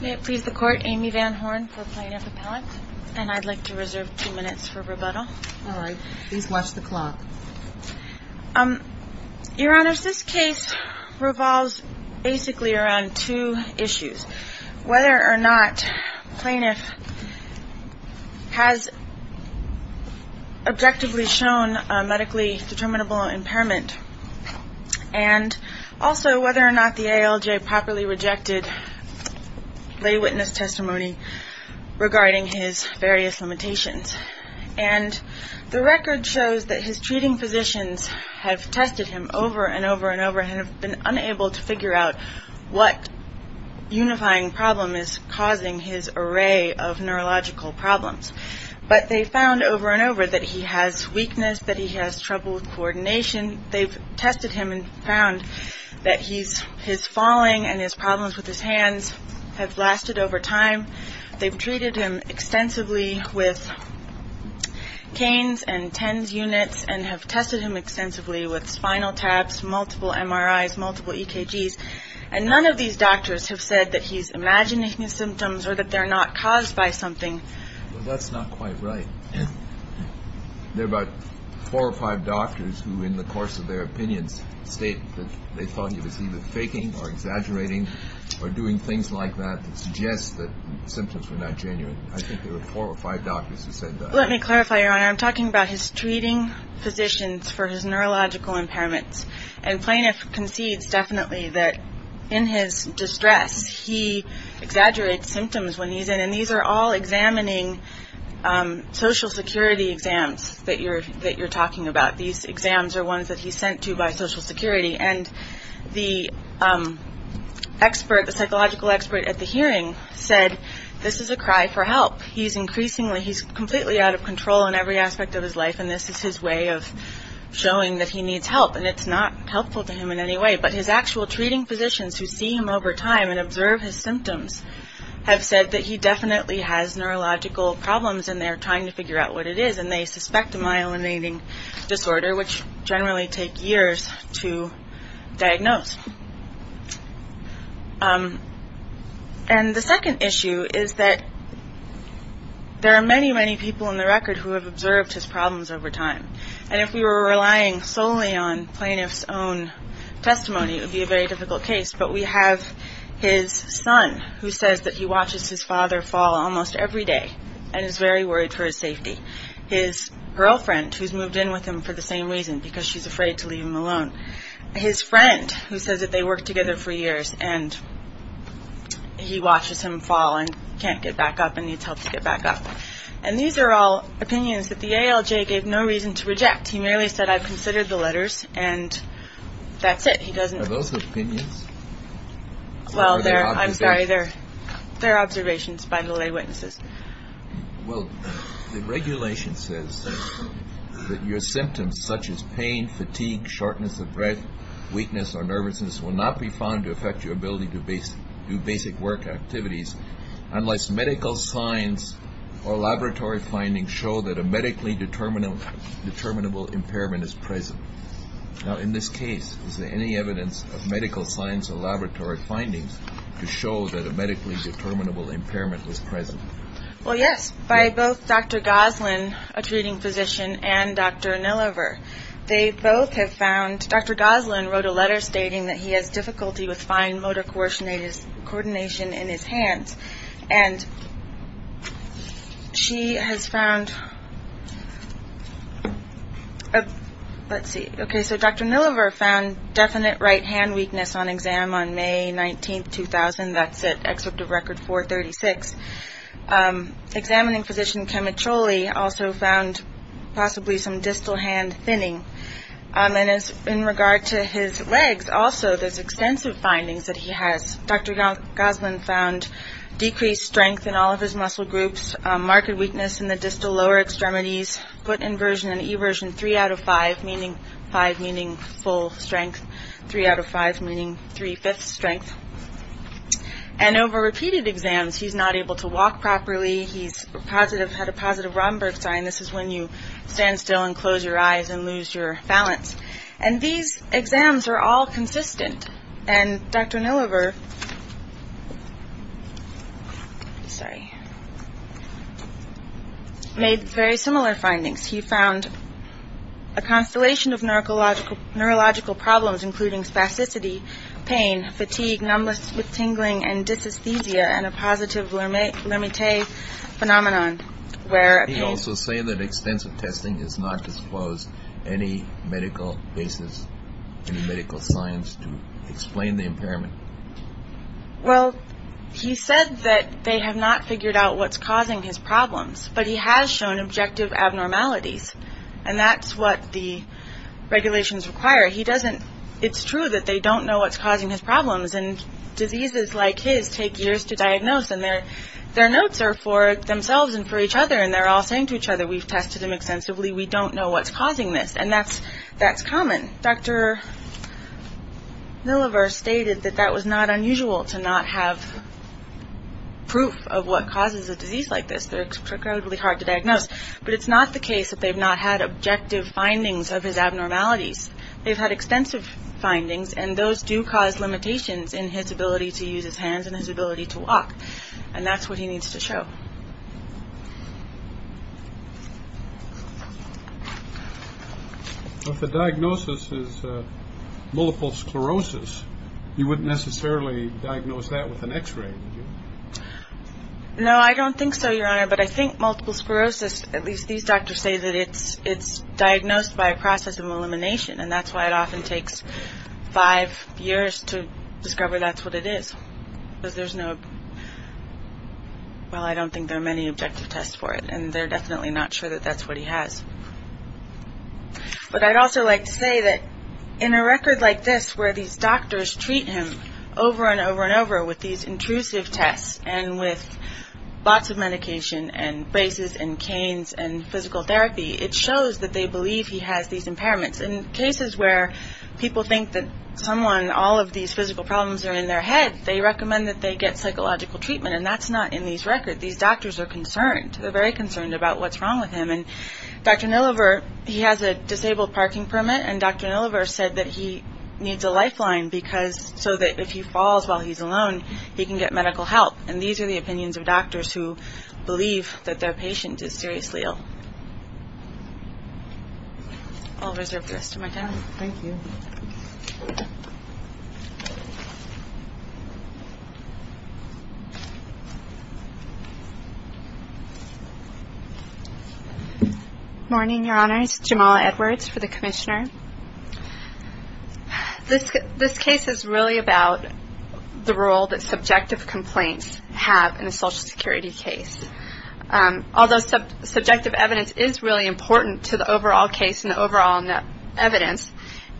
May it please the Court, Amy Van Horn for Plaintiff Appellant, and I'd like to reserve two minutes for rebuttal. All right. Please watch the clock. Your Honors, this case revolves basically around two issues. Whether or not plaintiff has objectively shown medically determinable impairment, and also whether or not the ALJ properly rejected lay witness testimony regarding his various limitations. And the record shows that his treating physicians have tested him over and over and over and have been unable to figure out what unifying problem is causing his array of neurological problems. But they found over and over that he has weakness, that he has trouble with coordination. They've tested him and found that his falling and his problems with his hands have lasted over time. They've treated him extensively with canes and TENS units and have tested him extensively with spinal taps, multiple MRIs, multiple EKGs. And none of these doctors have said that he's imagining symptoms or that they're not caused by something. Well, that's not quite right. There are about four or five doctors who, in the course of their opinions, state that they thought he was either faking or exaggerating or doing things like that that suggest that symptoms were not genuine. I think there were four or five doctors who said that. Let me clarify, Your Honor. I'm talking about his treating physicians for his neurological impairments. And plaintiff concedes definitely that in his distress, he exaggerates symptoms when he's in. And these are all examining Social Security exams that you're talking about. These exams are ones that he's sent to by Social Security. And the expert, the psychological expert at the hearing said, this is a cry for help. He's increasingly, he's completely out of control in every aspect of his life. And this is his way of showing that he needs help. And it's not helpful to him in any way. But his actual treating physicians who see him over time and observe his symptoms have said that he definitely has neurological problems and they're trying to figure out what it is. And they suspect a myelinating disorder, which generally take years to diagnose. And the second issue is that there are many, many people in the record who have observed his problems over time. And if we were relying solely on plaintiff's own testimony, it would be a very difficult case. But we have his son who says that he watches his father fall almost every day and is very worried for his safety. His girlfriend who's moved in with him for the same reason, because she's afraid to leave him alone. His friend who says that they worked together for years and he watches him fall and can't get back up and needs help to get back up. And these are all opinions that the ALJ gave no reason to reject. He merely said, I've considered the letters and that's it. Are those opinions? Well, they're, I'm sorry, they're observations by the lay witnesses. Well, the regulation says that your symptoms such as pain, fatigue, shortness of breath, weakness or nervousness will not be found to affect your ability to do basic work activities unless medical signs or laboratory findings show that a medically determinable impairment is present. Now, in this case, is there any evidence of medical science or laboratory findings to show that a medically determinable impairment was present? Well, yes, by both Dr. Goslin, a treating physician, and Dr. Nulliver. They both have found, Dr. Goslin wrote a letter stating that he has difficulty with fine motor coordination in his hands and she has found, let's see, okay, so Dr. Nulliver found definite right hand weakness on exam on May 19th, 2000, that's at excerpt of record 436. Examining physician Chemicholi also found possibly some distal hand thinning and in regard to his legs, also there's extensive findings that he has, Dr. Goslin found decreased strength in all of his muscle groups, marked weakness in the distal lower extremities, foot inversion and eversion three out of five, meaning five meaning full strength, three out of five meaning three-fifths strength. And over repeated exams, he's not able to walk properly, he's positive, had a positive Romberg sign, this is when you stand still and close your eyes and lose your balance. And these exams are all consistent and Dr. Nulliver, sorry, made very similar findings. He found a constellation of neurological problems including spasticity, pain, fatigue, numbness with tingling and dysesthesia and a positive Lamy-Tay phenomenon where a pain. Can you also say that extensive testing has not disclosed any medical basis, any medical science to explain the impairment? Well he said that they have not figured out what's causing his problems but he has shown objective abnormalities and that's what the regulations require. He doesn't, it's true that they don't know what's causing his problems and diseases like his take years to diagnose and their notes are for themselves and for each other and they're all saying to each other we've tested him extensively, we don't know what's causing this. And that's common. Dr. Nulliver stated that that was not unusual to not have proof of what causes a disease like this. They're incredibly hard to diagnose. But it's not the case that they've not had objective findings of his abnormalities. They've had extensive findings and those do cause limitations in his ability to use his If the diagnosis is multiple sclerosis, you wouldn't necessarily diagnose that with an x-ray would you? No I don't think so your honor but I think multiple sclerosis, at least these doctors say that it's diagnosed by a process of elimination and that's why it often takes five years to discover that's what it is because there's no, well I don't think there are many objective tests for it and they're definitely not sure that that's what he has. But I'd also like to say that in a record like this where these doctors treat him over and over and over with these intrusive tests and with lots of medication and braces and canes and physical therapy, it shows that they believe he has these impairments. In cases where people think that someone, all of these physical problems are in their head, they recommend that they get psychological treatment and that's not in these records. These doctors are concerned, they're very concerned about what's wrong with him and Dr. Nillever, he has a disabled parking permit and Dr. Nillever said that he needs a lifeline because so that if he falls while he's alone, he can get medical help and these are the opinions of doctors who believe that their patient is seriously ill. I'll reserve the rest of my time. Thank you. Good morning, your honors. Jamala Edwards for the commissioner. This case is really about the role that subjective complaints have in a social security case. Although subjective evidence is really important to the overall case and the overall evidence,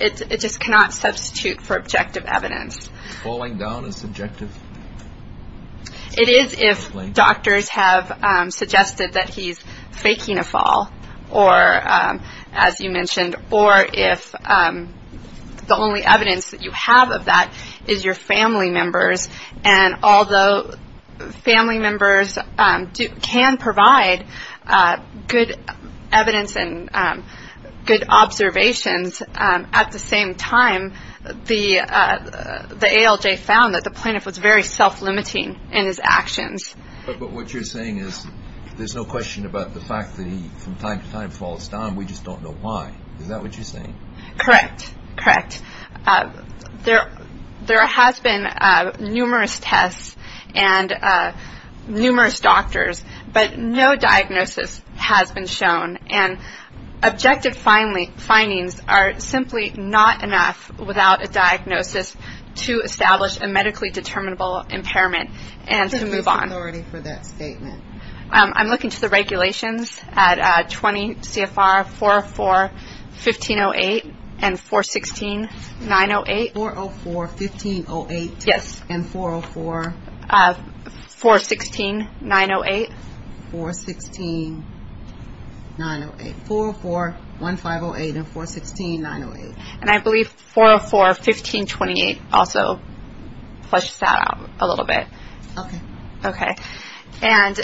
it just cannot substitute for objective evidence. Falling down is subjective? It is if doctors have suggested that he's faking a fall or as you mentioned or if the only evidence that you have of that is your family members and although family members can provide good evidence and good observations, at the same time, the ALJ found that the plaintiff was very self-limiting in his actions. But what you're saying is there's no question about the fact that he from time to time falls down, we just don't know why. Is that what you're saying? Correct, correct. There has been numerous tests and numerous doctors, but no diagnosis has been shown and objective findings are simply not enough without a diagnosis to establish a medically determinable impairment and to move on. Who is in authority for that statement? I'm looking to the regulations at 20 CFR 404-1508 and 416-908. 404-1508? Yes. And 404? 416-908. 416-908. 404-1508 and 416-908. And I believe 404-1528 also flushes that out a little bit. Okay. Okay. And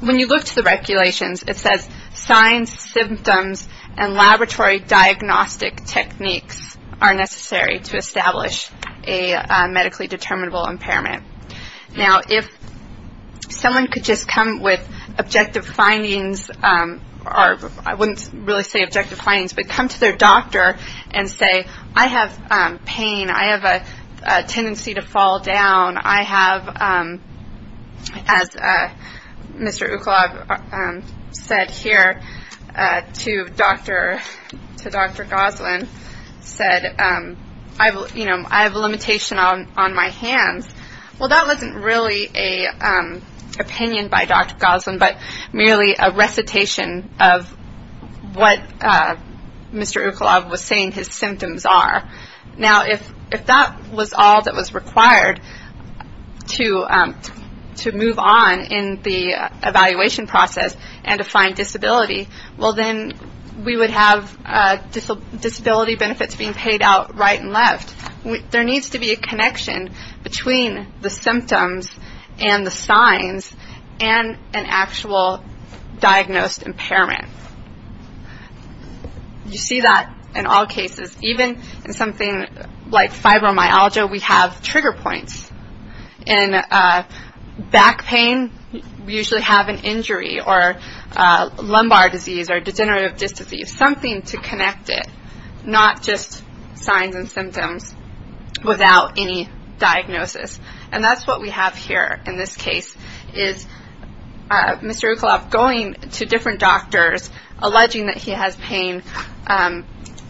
when you look to the regulations, it says signs, symptoms, and laboratory diagnostic techniques are necessary to establish a medically determinable impairment. Now, if someone could just come with objective findings, or I wouldn't really say objective findings, but come to their doctor and say, I have pain. I have a tendency to fall down. I have, as Mr. Ukolov said here to Dr. Goslin, said, I have a limitation on my hands. Well, that wasn't really an opinion by Dr. Goslin, but merely a recitation of what Mr. Ukolov was saying his symptoms are. Now, if that was all that was required to move on in the evaluation process and to find disability, well, then we would have disability benefits being paid out right and left. There needs to be a connection between the symptoms and the signs and an actual diagnosed impairment. You see that in all cases. Even in something like fibromyalgia, we have trigger points. In back pain, we usually have an injury or lumbar disease or degenerative dystrophy. Something to connect it, not just signs and symptoms without any diagnosis. And that's what we have here in this case is Mr. Ukolov going to different doctors, alleging that he has pain,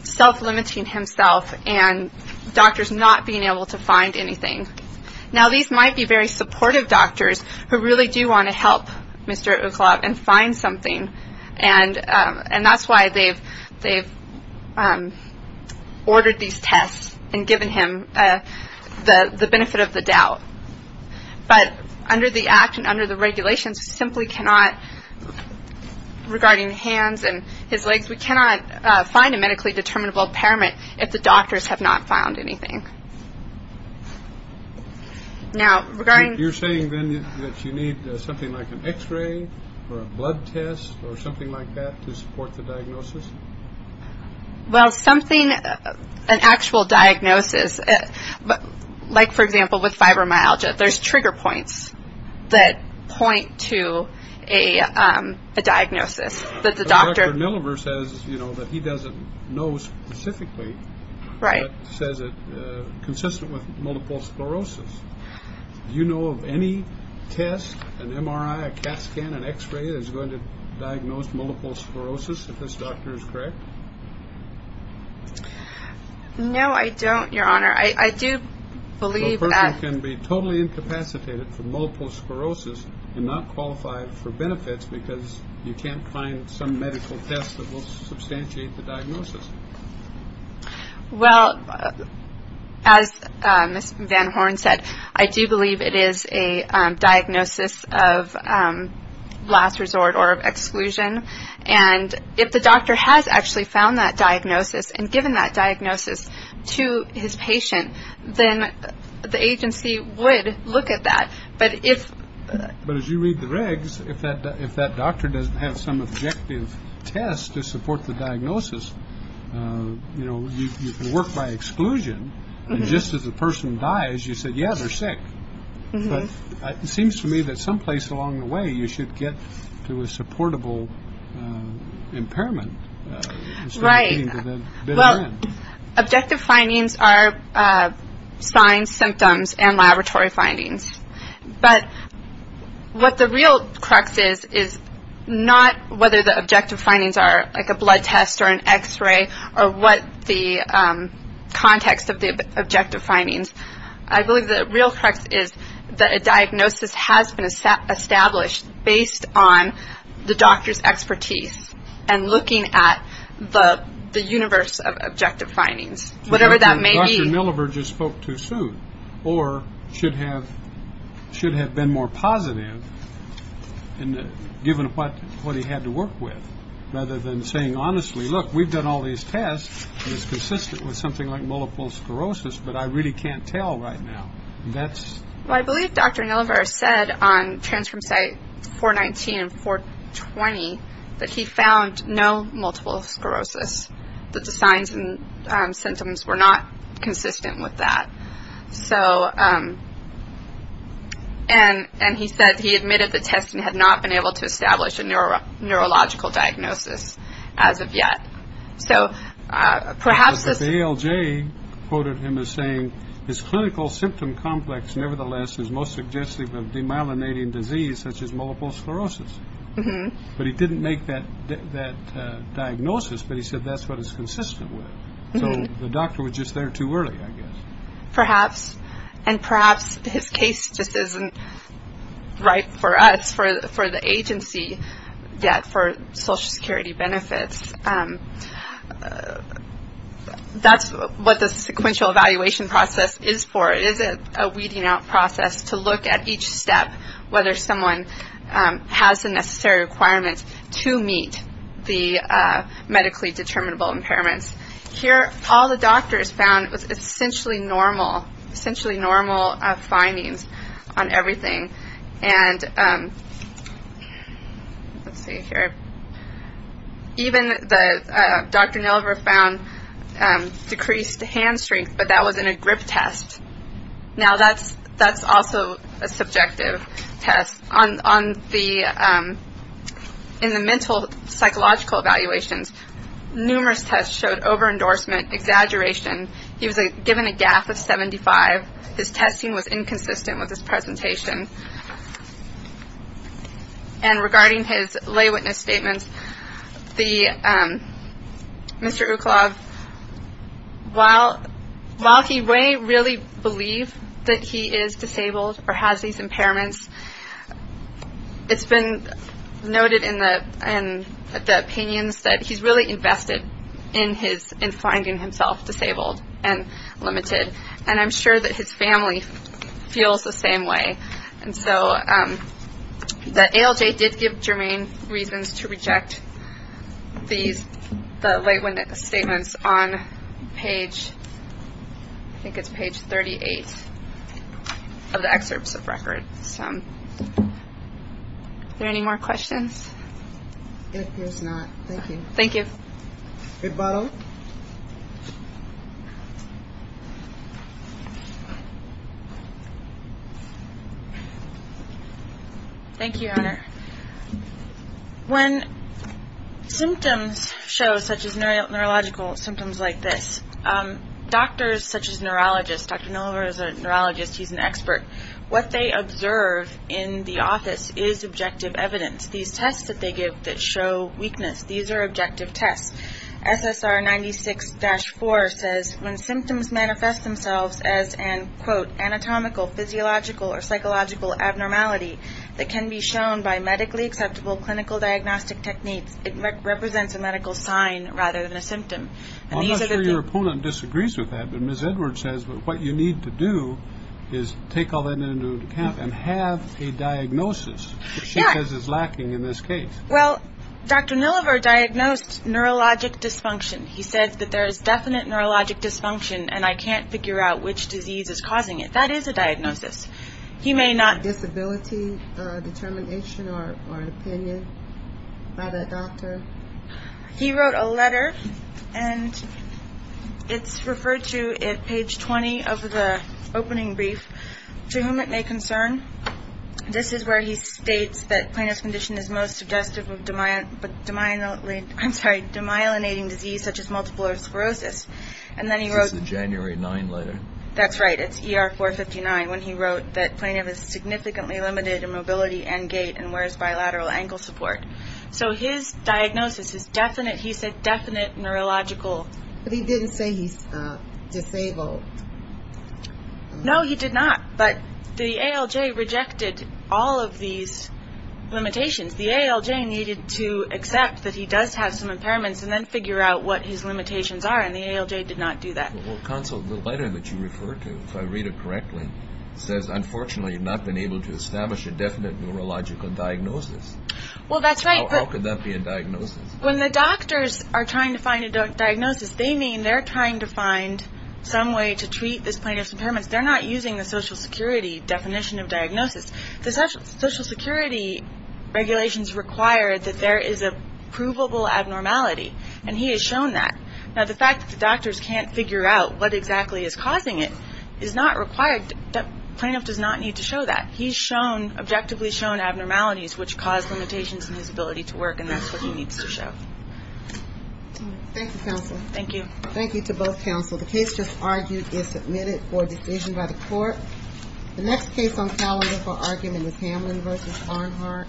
self-limiting himself, and doctors not being able to find anything. Now, these might be very supportive doctors who really do want to help Mr. Ukolov and find something. And that's why they've ordered these tests and given him the benefit of the doubt. But under the Act and under the regulations, we simply cannot, regarding hands and his legs, we cannot find a medically determinable impairment if the doctors have not found anything. Now, regarding... You're saying then that you need something like an x-ray or a blood test or something like that to support the diagnosis? Well, something, an actual diagnosis, like for example with fibromyalgia, there's trigger points that point to a diagnosis that the doctor... that he doesn't know specifically, but says it's consistent with multiple sclerosis. Do you know of any test, an MRI, a CAT scan, an x-ray that's going to diagnose multiple sclerosis if this doctor is correct? No, I don't, Your Honor. I do believe that... A person can be totally incapacitated from multiple sclerosis and not qualified for benefits because you can't find some medical test that will substantiate the diagnosis. Well, as Ms. Van Horn said, I do believe it is a diagnosis of last resort or exclusion. And if the doctor has actually found that diagnosis and given that diagnosis to his patient, then the agency would look at that. But as you read the regs, if that doctor doesn't have some objective test to support the diagnosis, you know, you can work by exclusion. And just as the person dies, you say, yeah, they're sick. But it seems to me that someplace along the way, you should get to a supportable impairment. Right. Objective findings are signs, symptoms, and laboratory findings. But what the real crux is, is not whether the objective findings are like a blood test or an X-ray or what the context of the objective findings. I believe the real crux is that a diagnosis has been established based on the doctor's expertise and looking at the universe of objective findings, whatever that may be. Dr. Nillever just spoke too soon or should have been more positive given what he had to work with rather than saying honestly, look, we've done all these tests and it's consistent with something like multiple sclerosis, but I really can't tell right now. I believe Dr. Nillever said on transcript site 419 and 420 that he found no multiple sclerosis, that the signs and symptoms were not consistent with that. So and he said he admitted the test had not been able to establish a neurological diagnosis as of yet. So perhaps this- But the ALJ quoted him as saying his clinical symptom complex, nevertheless, is most suggestive of demyelinating disease such as multiple sclerosis. But he didn't make that diagnosis, but he said that's what it's consistent with. So the doctor was just there too early, I guess. Perhaps. And perhaps his case just isn't right for us, for the agency, yet for Social Security benefits. That's what the sequential evaluation process is for. There is a weeding out process to look at each step, whether someone has the necessary requirements to meet the medically determinable impairments. Here, all the doctors found was essentially normal, essentially normal findings on everything. And let's see here. Even Dr. Nillever found decreased hand strength, but that was in a grip test. Now, that's also a subjective test. In the mental psychological evaluations, numerous tests showed over endorsement, exaggeration. He was given a GAF of 75. His testing was inconsistent with his presentation. And regarding his lay witness statements, Mr. Uklov, while he may really believe that he is disabled or has these impairments, it's been noted in the opinions that he's really invested in finding himself disabled and limited. And I'm sure that his family feels the same way. And so the ALJ did give germane reasons to reject the lay witness statements on page, I think it's page 38 of the excerpts of records. Are there any more questions? If there's not, thank you. Thank you. Big bottle. Thank you, Honor. When symptoms show such as neurological symptoms like this, doctors such as neurologists, Dr. Nillever is a neurologist, he's an expert, what they observe in the office is objective evidence. These tests that they give that show weakness, these are objective tests. SSR 96-4 says when symptoms manifest themselves as an, quote, anatomical, physiological, or psychological abnormality that can be shown by medically acceptable clinical diagnostic techniques, it represents a medical sign rather than a symptom. I'm not sure your opponent disagrees with that, but Ms. Edwards says what you need to do is take all that into account and have a diagnosis that she says is lacking in this case. Well, Dr. Nillever diagnosed neurologic dysfunction. He said that there is definite neurologic dysfunction and I can't figure out which disease is causing it. That is a diagnosis. He may not. Disability determination or opinion by the doctor. He wrote a letter and it's referred to at page 20 of the opening brief, to whom it may concern. This is where he states that Plano's condition is most suggestive of demyelinating disease such as multiple sclerosis. This is a January 9 letter. That's right. It's ER 459 when he wrote that Plano is significantly limited in mobility and gait and wears bilateral ankle support. So his diagnosis is definite. He said definite neurological. But he didn't say he's disabled. No, he did not. But the ALJ rejected all of these limitations. The ALJ needed to accept that he does have some impairments and then figure out what his limitations are and the ALJ did not do that. Well, Consul, the letter that you refer to, if I read it correctly, says unfortunately you've not been able to establish a definite neurological diagnosis. Well, that's right. How could that be a diagnosis? When the doctors are trying to find a diagnosis, they mean they're trying to find some way to treat this plaintiff's impairments. They're not using the Social Security definition of diagnosis. The Social Security regulations require that there is a provable abnormality and he has shown that. Now, the fact that the doctors can't figure out what exactly is causing it is not required. The plaintiff does not need to show that. He's shown, objectively shown, abnormalities which cause limitations in his ability to work and that's what he needs to show. Thank you, Consul. Thank you. Thank you to both Consuls. The case just argued is submitted for decision by the court. The next case on calendar for argument is Hamlin v. Arnhart. Counsel,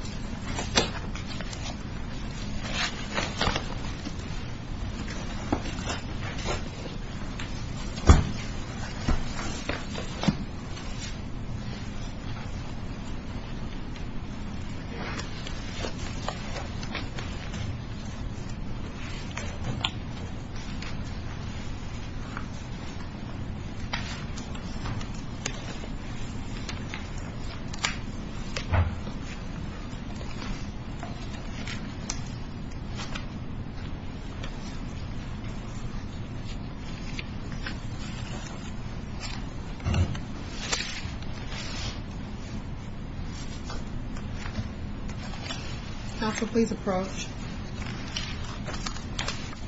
please approach. Please. Thank you.